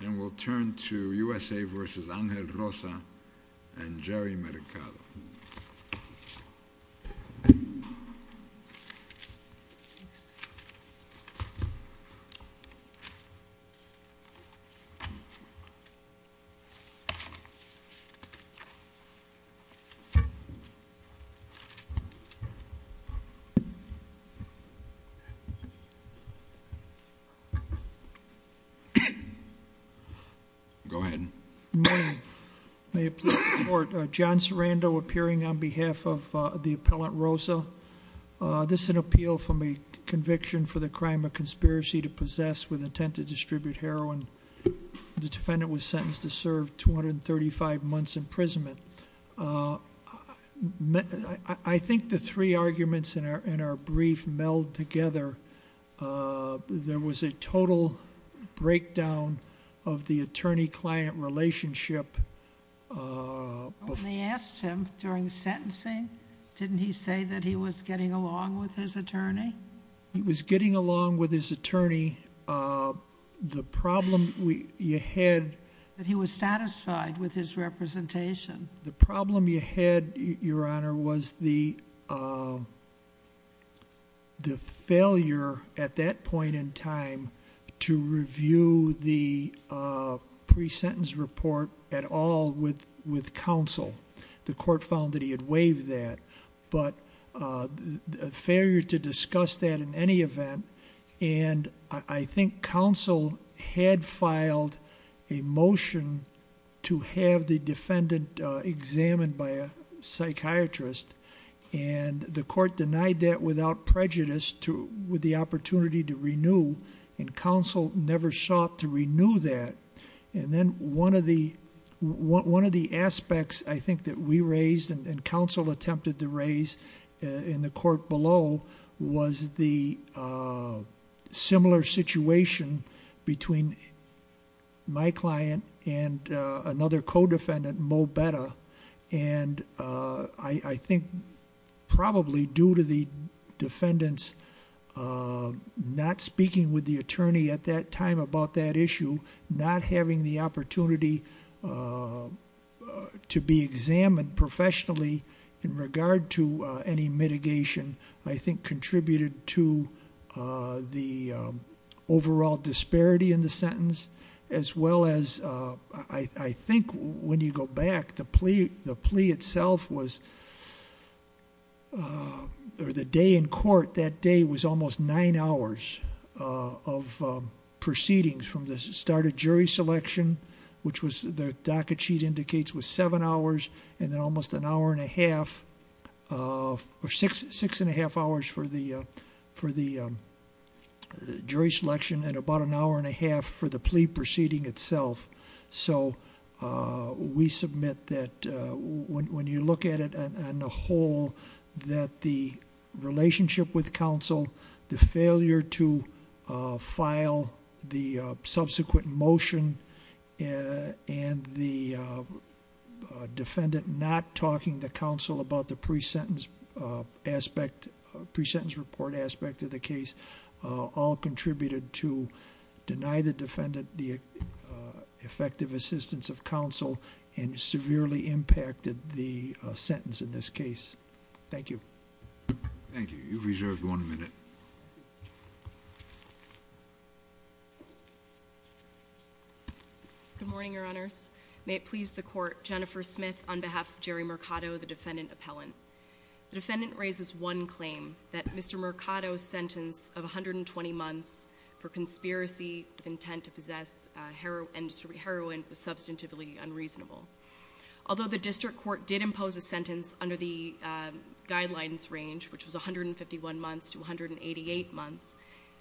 And we'll turn to USA v. Angel Rosa and Jerry Mercado. Go ahead. Good morning. May it please the court. John Sarando appearing on behalf of the appellant Rosa. This is an appeal from a conviction for the crime of conspiracy to possess with intent to distribute heroin. The defendant was sentenced to serve 235 months imprisonment. I think the three arguments in our brief meld together. There was a total breakdown of the attorney-client relationship. When they asked him during sentencing, didn't he say that he was getting along with his attorney? He was getting along with his attorney. The problem you had... That he was satisfied with his representation. The problem you had, Your Honor, was the failure, at that point in time, to review the pre-sentence report at all with counsel. The court found that he had waived that. But a failure to discuss that in any event. And I think counsel had filed a motion to have the defendant examined by a psychiatrist. And the court denied that without prejudice with the opportunity to renew. And counsel never sought to renew that. And then one of the aspects, I think, that we raised and counsel attempted to raise in the court below, was the similar situation between my client and another co-defendant, Mo Betta. And I think probably due to the defendant's not speaking with the attorney at that time about that issue, not having the opportunity to be examined professionally in regard to any mitigation, I think contributed to the overall disparity in the sentence. As well as, I think when you go back, the plea itself was... The day in court that day was almost nine hours of proceedings from the start of jury selection, which the docket sheet indicates was seven hours, and then almost an hour and a half, or six and a half hours for the jury selection, and about an hour and a half for the plea proceeding itself. So we submit that when you look at it on the whole, that the relationship with counsel, the failure to file the subsequent motion, and the defendant not talking to counsel about the pre-sentence aspect, pre-sentence report aspect of the case, all contributed to deny the defendant the effective assistance of counsel and severely impacted the sentence in this case. Thank you. Thank you. You've reserved one minute. Good morning, Your Honors. May it please the court, Jennifer Smith on behalf of Jerry Mercado, the defendant appellant. The defendant raises one claim, that Mr. Mercado's sentence of 120 months for conspiracy with intent to possess heroin was substantively unreasonable. Although the district court did impose a sentence under the guidelines range, which was 151 months to 188 months,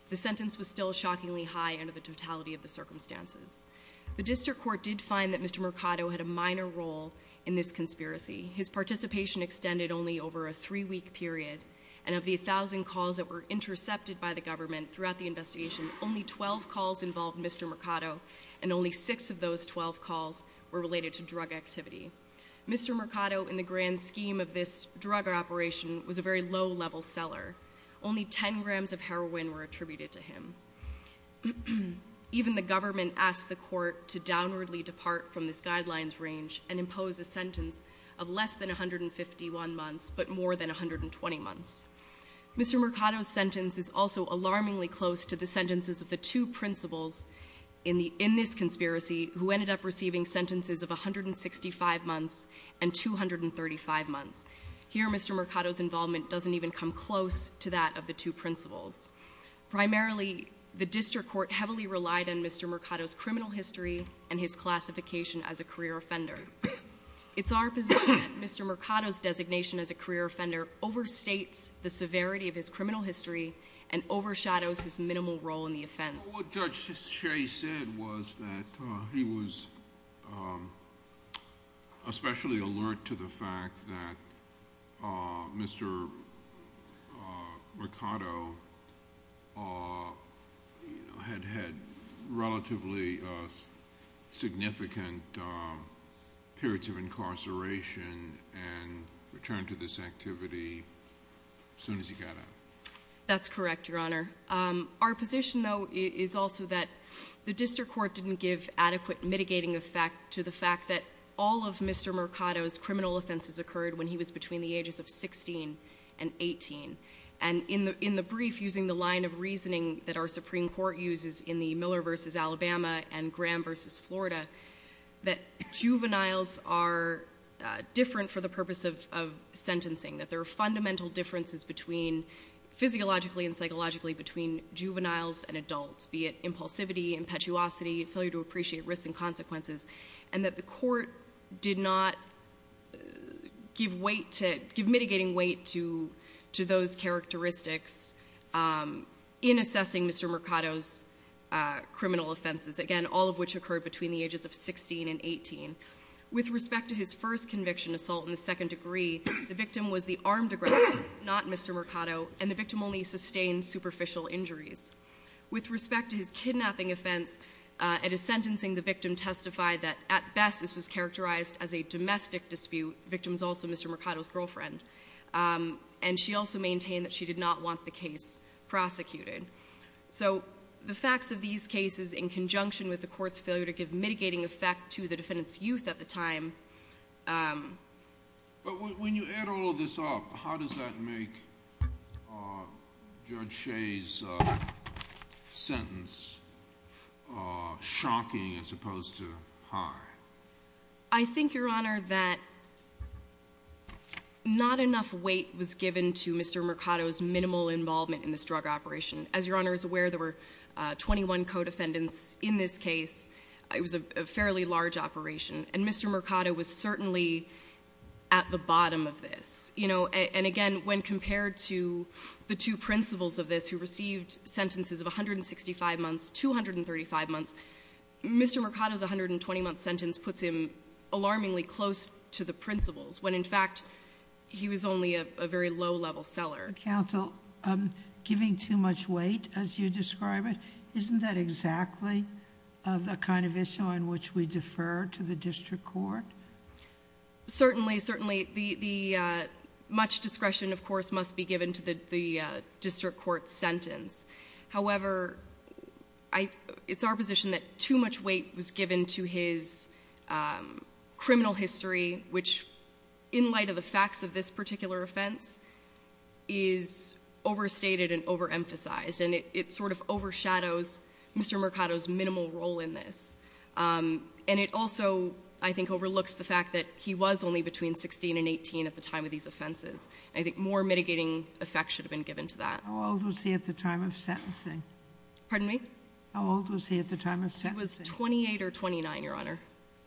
the sentence was still shockingly high under the totality of the circumstances. The district court did find that Mr. Mercado had a minor role in this conspiracy. His participation extended only over a three-week period, and of the 1,000 calls that were intercepted by the government throughout the investigation, only 12 calls involved Mr. Mercado, and only six of those 12 calls were related to drug activity. Mr. Mercado, in the grand scheme of this drug operation, was a very low-level seller. Only 10 grams of heroin were attributed to him. Even the government asked the court to downwardly depart from this guidelines range and impose a sentence of less than 151 months, but more than 120 months. Mr. Mercado's sentence is also alarmingly close to the sentences of the two principals in this conspiracy, who ended up receiving sentences of 165 months and 235 months. Here, Mr. Mercado's involvement doesn't even come close to that of the two principals. Primarily, the district court heavily relied on Mr. Mercado's criminal history and his classification as a career offender. It's our position that Mr. Mercado's designation as a career offender overstates the severity of his criminal history and overshadows his minimal role in the offense. What Judge Shea said was that he was especially alert to the fact that Mr. Mercado had had relatively significant periods of incarceration and returned to this activity as soon as he got out. Our position, though, is also that the district court didn't give adequate mitigating effect to the fact that all of Mr. Mercado's criminal offenses occurred when he was between the ages of 16 and 18. In the brief, using the line of reasoning that our Supreme Court uses in the Miller v. Alabama and Graham v. Florida, that juveniles are different for the purpose of sentencing, that there are fundamental differences physiologically and psychologically between juveniles and adults, be it impulsivity, impetuosity, failure to appreciate risks and consequences, and that the court did not give mitigating weight to those characteristics in assessing Mr. Mercado's criminal offenses, again, all of which occurred between the ages of 16 and 18. With respect to his first conviction assault in the second degree, the victim was the armed aggressor, not Mr. Mercado, and the victim only sustained superficial injuries. With respect to his kidnapping offense, at his sentencing, the victim testified that, at best, this was characterized as a domestic dispute. The victim is also Mr. Mercado's girlfriend. And she also maintained that she did not want the case prosecuted. So the facts of these cases in conjunction with the court's failure to give mitigating effect to the defendant's youth at the time But when you add all of this up, how does that make Judge Shea's sentence shocking as opposed to high? I think, Your Honor, that not enough weight was given to Mr. Mercado's minimal involvement in this drug operation. As Your Honor is aware, there were 21 co-defendants in this case. It was a fairly large operation. And Mr. Mercado was certainly at the bottom of this. And again, when compared to the two principals of this who received sentences of 165 months, 235 months, Mr. Mercado's 120-month sentence puts him alarmingly close to the principals, when, in fact, he was only a very low-level seller. Counsel, giving too much weight, as you describe it, isn't that exactly the kind of issue on which we defer to the district court? Certainly, certainly. Much discretion, of course, must be given to the district court's sentence. However, it's our position that too much weight was given to his criminal history, which, in light of the facts of this particular offense, is overstated and overemphasized. And it sort of overshadows Mr. Mercado's minimal role in this. And it also, I think, overlooks the fact that he was only between 16 and 18 at the time of these offenses. I think more mitigating effects should have been given to that. How old was he at the time of sentencing? Pardon me? How old was he at the time of sentencing? He was 28 or 29, Your Honor.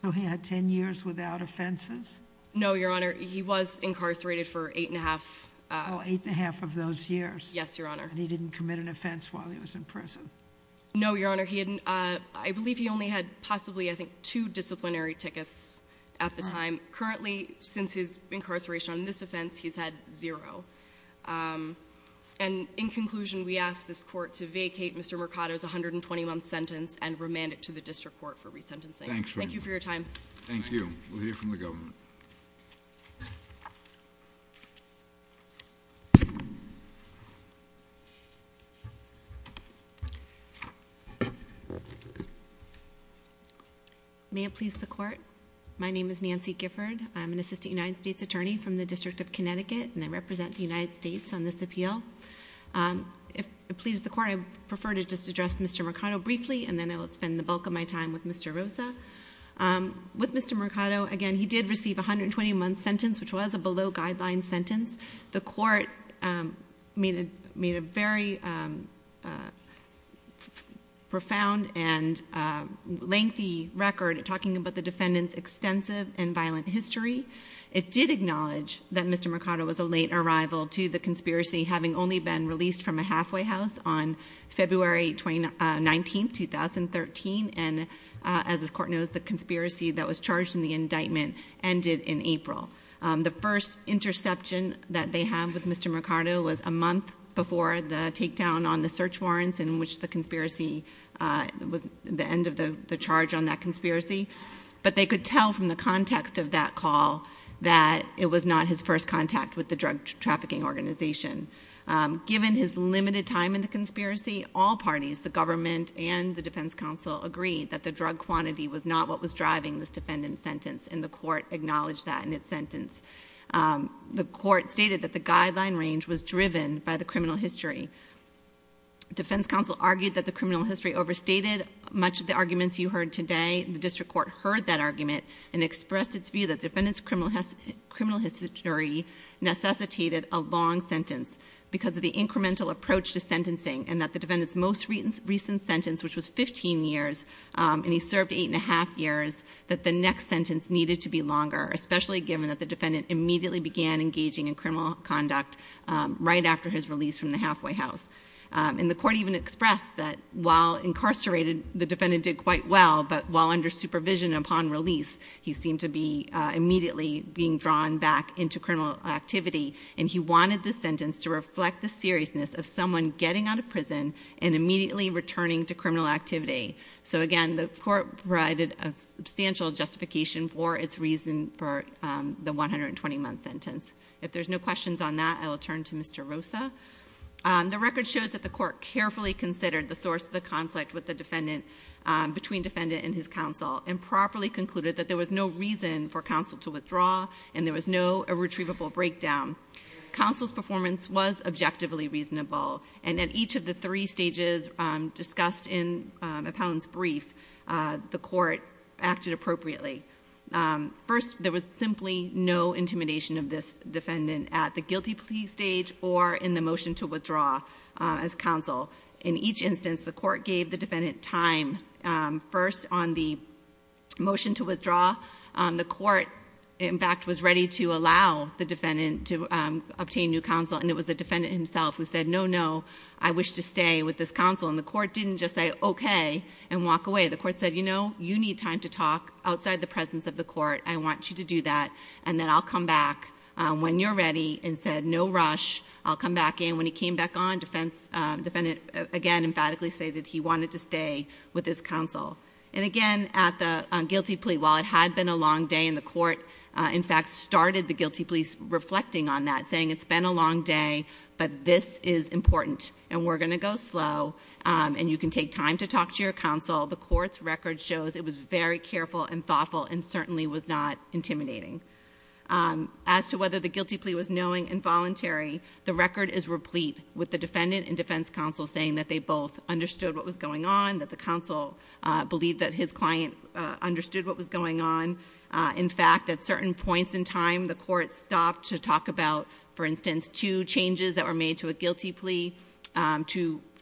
So he had 10 years without offenses? No, Your Honor. He was incarcerated for 8 1⁄2. Oh, 8 1⁄2 of those years. Yes, Your Honor. And he didn't commit an offense while he was in prison? No, Your Honor. I believe he only had possibly, I think, two disciplinary tickets at the time. Currently, since his incarceration on this offense, he's had zero. And in conclusion, we ask this court to vacate Mr. Mercado's 120-month sentence and remand it to the district court for resentencing. Thank you for your time. Thank you. We'll hear from the government. May it please the court. My name is Nancy Gifford. I'm an assistant United States attorney from the District of Connecticut, and I represent the United States on this appeal. If it pleases the court, I prefer to just address Mr. Mercado briefly, and then I will spend the bulk of my time with Mr. Rosa. With Mr. Mercado, again, he did receive a 120-month sentence, which was a below-guideline sentence. The court made a very profound and lengthy record talking about the defendant's extensive and violent history. It did acknowledge that Mr. Mercado was a late arrival to the conspiracy, having only been released from a halfway house on February 19, 2013. And as this court knows, the conspiracy that was charged in the indictment ended in April. The first interception that they had with Mr. Mercado was a month before the takedown on the search warrants, in which the conspiracy was the end of the charge on that conspiracy. But they could tell from the context of that call that it was not his first contact with the drug trafficking organization. Given his limited time in the conspiracy, all parties, the government and the defense council, agreed that the drug quantity was not what was driving this defendant's sentence, and the court acknowledged that in its sentence. The court stated that the guideline range was driven by the criminal history. The defense council argued that the criminal history overstated much of the arguments you heard today. The district court heard that argument and expressed its view that the defendant's criminal history necessitated a long sentence, because of the incremental approach to sentencing, and that the defendant's most recent sentence, which was 15 years, and he served eight and a half years, that the next sentence needed to be longer, especially given that the defendant immediately began engaging in criminal conduct right after his release from the halfway house. And the court even expressed that while incarcerated, the defendant did quite well, but while under supervision upon release, he seemed to be immediately being drawn back into criminal activity. And he wanted the sentence to reflect the seriousness of someone getting out of prison and immediately returning to criminal activity. So again, the court provided a substantial justification for its reason for the 120 month sentence. If there's no questions on that, I will turn to Mr. Rosa. The record shows that the court carefully considered the source of the conflict between defendant and his counsel, and properly concluded that there was no reason for counsel to withdraw, and there was no retrievable breakdown. Counsel's performance was objectively reasonable. And at each of the three stages discussed in Appellant's brief, the court acted appropriately. First, there was simply no intimidation of this defendant at the guilty plea stage or in the motion to withdraw as counsel. In each instance, the court gave the defendant time. First, on the motion to withdraw, the court, in fact, was ready to allow the defendant to obtain new counsel, and it was the defendant himself who said, no, no. I wish to stay with this counsel, and the court didn't just say, okay, and walk away. The court said, you know, you need time to talk outside the presence of the court. I want you to do that, and then I'll come back when you're ready, and said, no rush, I'll come back in. And when he came back on, defendant, again, emphatically stated he wanted to stay with his counsel. And again, at the guilty plea, while it had been a long day, and the court, in fact, started the guilty plea reflecting on that, saying it's been a long day, but this is important. And we're going to go slow, and you can take time to talk to your counsel. The court's record shows it was very careful and thoughtful, and certainly was not intimidating. As to whether the guilty plea was knowing and voluntary, the record is replete with the defendant and defense counsel saying that they both understood what was going on, that the counsel believed that his client understood what was going on. In fact, at certain points in time, the court stopped to talk about, for instance, two changes that were made to a guilty plea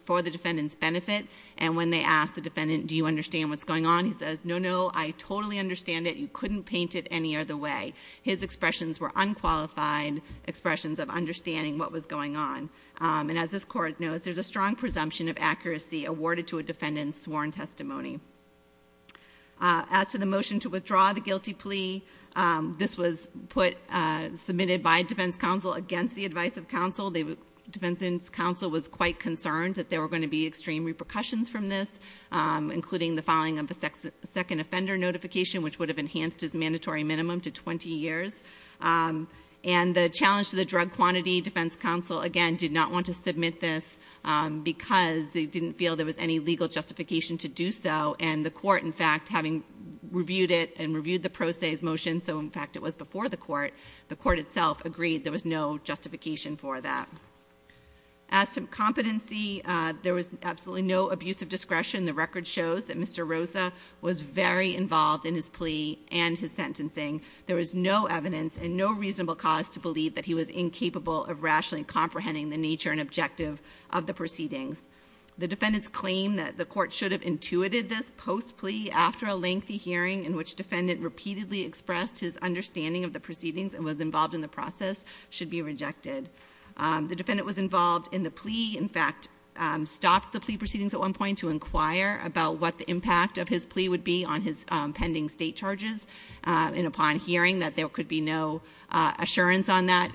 for the defendant's benefit. And when they asked the defendant, do you understand what's going on? And he says, no, no, I totally understand it, you couldn't paint it any other way. His expressions were unqualified expressions of understanding what was going on. And as this court knows, there's a strong presumption of accuracy awarded to a defendant's sworn testimony. As to the motion to withdraw the guilty plea, this was submitted by defense counsel against the advice of counsel. Defense counsel was quite concerned that there were going to be extreme repercussions from this, including the filing of a second offender notification, which would have enhanced his mandatory minimum to 20 years. And the challenge to the Drug Quantity Defense Counsel, again, did not want to submit this because they didn't feel there was any legal justification to do so. And the court, in fact, having reviewed it and reviewed the pro se's motion, so in fact it was before the court, the court itself agreed there was no justification for that. As to competency, there was absolutely no abuse of discretion. The record shows that Mr. Rosa was very involved in his plea and his sentencing. There was no evidence and no reasonable cause to believe that he was incapable of rationally comprehending the nature and objective of the proceedings. The defendant's claim that the court should have intuited this post plea after a lengthy hearing in which defendant repeatedly expressed his The defendant was involved in the plea, in fact, stopped the plea proceedings at one point to inquire about what the impact of his plea would be on his pending state charges. And upon hearing that there could be no assurance on that,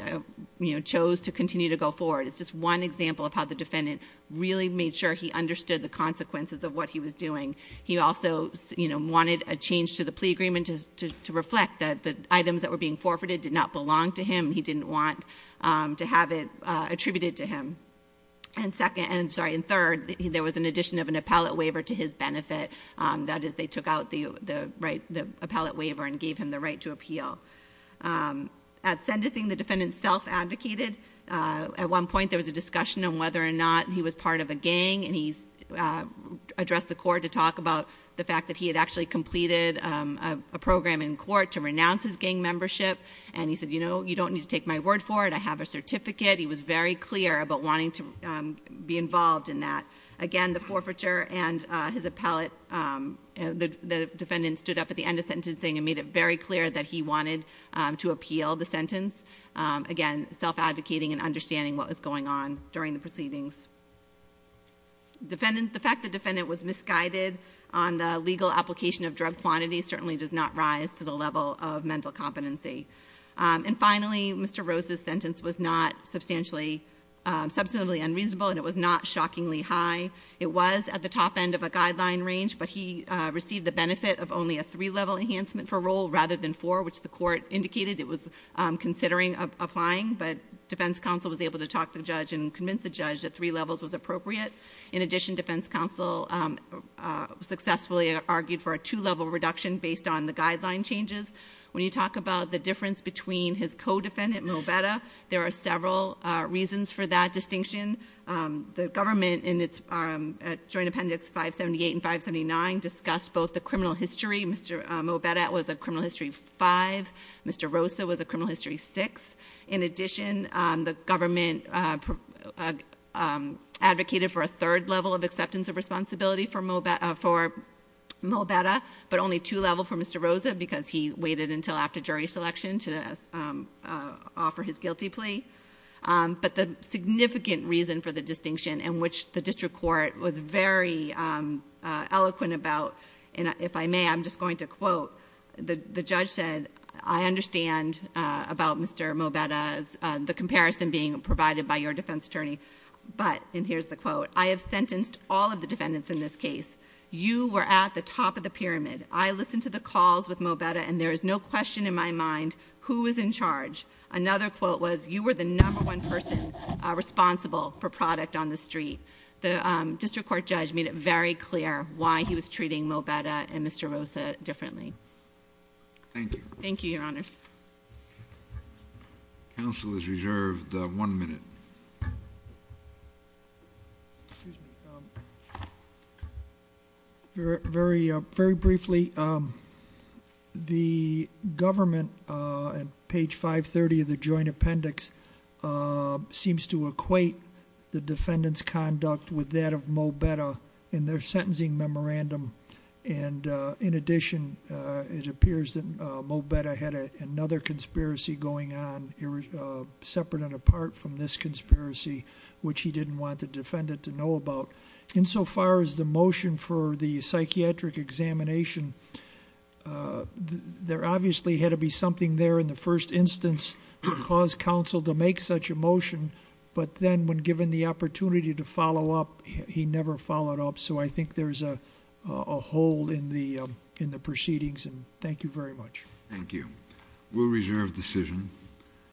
chose to continue to go forward. It's just one example of how the defendant really made sure he understood the consequences of what he was doing. He also wanted a change to the plea agreement to reflect that the items that were being forfeited did not belong to him. He didn't want to have it attributed to him. And second, I'm sorry, and third, there was an addition of an appellate waiver to his benefit. That is, they took out the appellate waiver and gave him the right to appeal. At sentencing, the defendant self-advocated. At one point, there was a discussion on whether or not he was part of a gang. And he addressed the court to talk about the fact that he had actually completed a program in court to renounce his gang membership. And he said, you don't need to take my word for it, I have a certificate. He was very clear about wanting to be involved in that. Again, the forfeiture and his appellate, the defendant stood up at the end of sentencing and made it very clear that he wanted to appeal the sentence. Again, self-advocating and understanding what was going on during the proceedings. The fact the defendant was misguided on the legal application of drug quantity certainly does not rise to the level of mental competency. And finally, Mr. Rose's sentence was not substantially unreasonable, and it was not shockingly high. It was at the top end of a guideline range, but he received the benefit of only a three level enhancement for role rather than four, which the court indicated it was considering applying. But defense counsel was able to talk to the judge and convince the judge that three levels was appropriate. In addition, defense counsel successfully argued for a two level reduction based on the guideline changes. When you talk about the difference between his co-defendant, Mobetta, there are several reasons for that distinction. The government, in its joint appendix 578 and 579, discussed both the criminal history. Mr. Mobetta was a criminal history five, Mr. Rosa was a criminal history six. In addition, the government advocated for a third level of acceptance of responsibility for Mobetta, but only two level for Mr. Rosa because he waited until after jury selection to offer his guilty plea. But the significant reason for the distinction in which the district court was very eloquent about, and if I may, I'm just going to quote, the judge said, I understand about Mr. Mobetta's, the comparison being provided by your defense attorney. But, and here's the quote, I have sentenced all of the defendants in this case. You were at the top of the pyramid. I listened to the calls with Mobetta, and there is no question in my mind who was in charge. Another quote was, you were the number one person responsible for product on the street. The district court judge made it very clear why he was treating Mobetta and Mr. Rosa differently. Thank you. Thank you, your honors. Council is reserved one minute. Very briefly, the government, on page 530 of the joint appendix, seems to equate the defendant's conduct with that of Mobetta in their sentencing memorandum. And in addition, it appears that Mobetta had another conspiracy going on, separate and apart from this conspiracy, which he didn't want the defendant to know about. Insofar as the motion for the psychiatric examination, there obviously had to be something there in the first instance to cause counsel to make such a motion. But then when given the opportunity to follow up, he never followed up. So I think there's a hole in the proceedings, and thank you very much. Thank you. We'll reserve decision.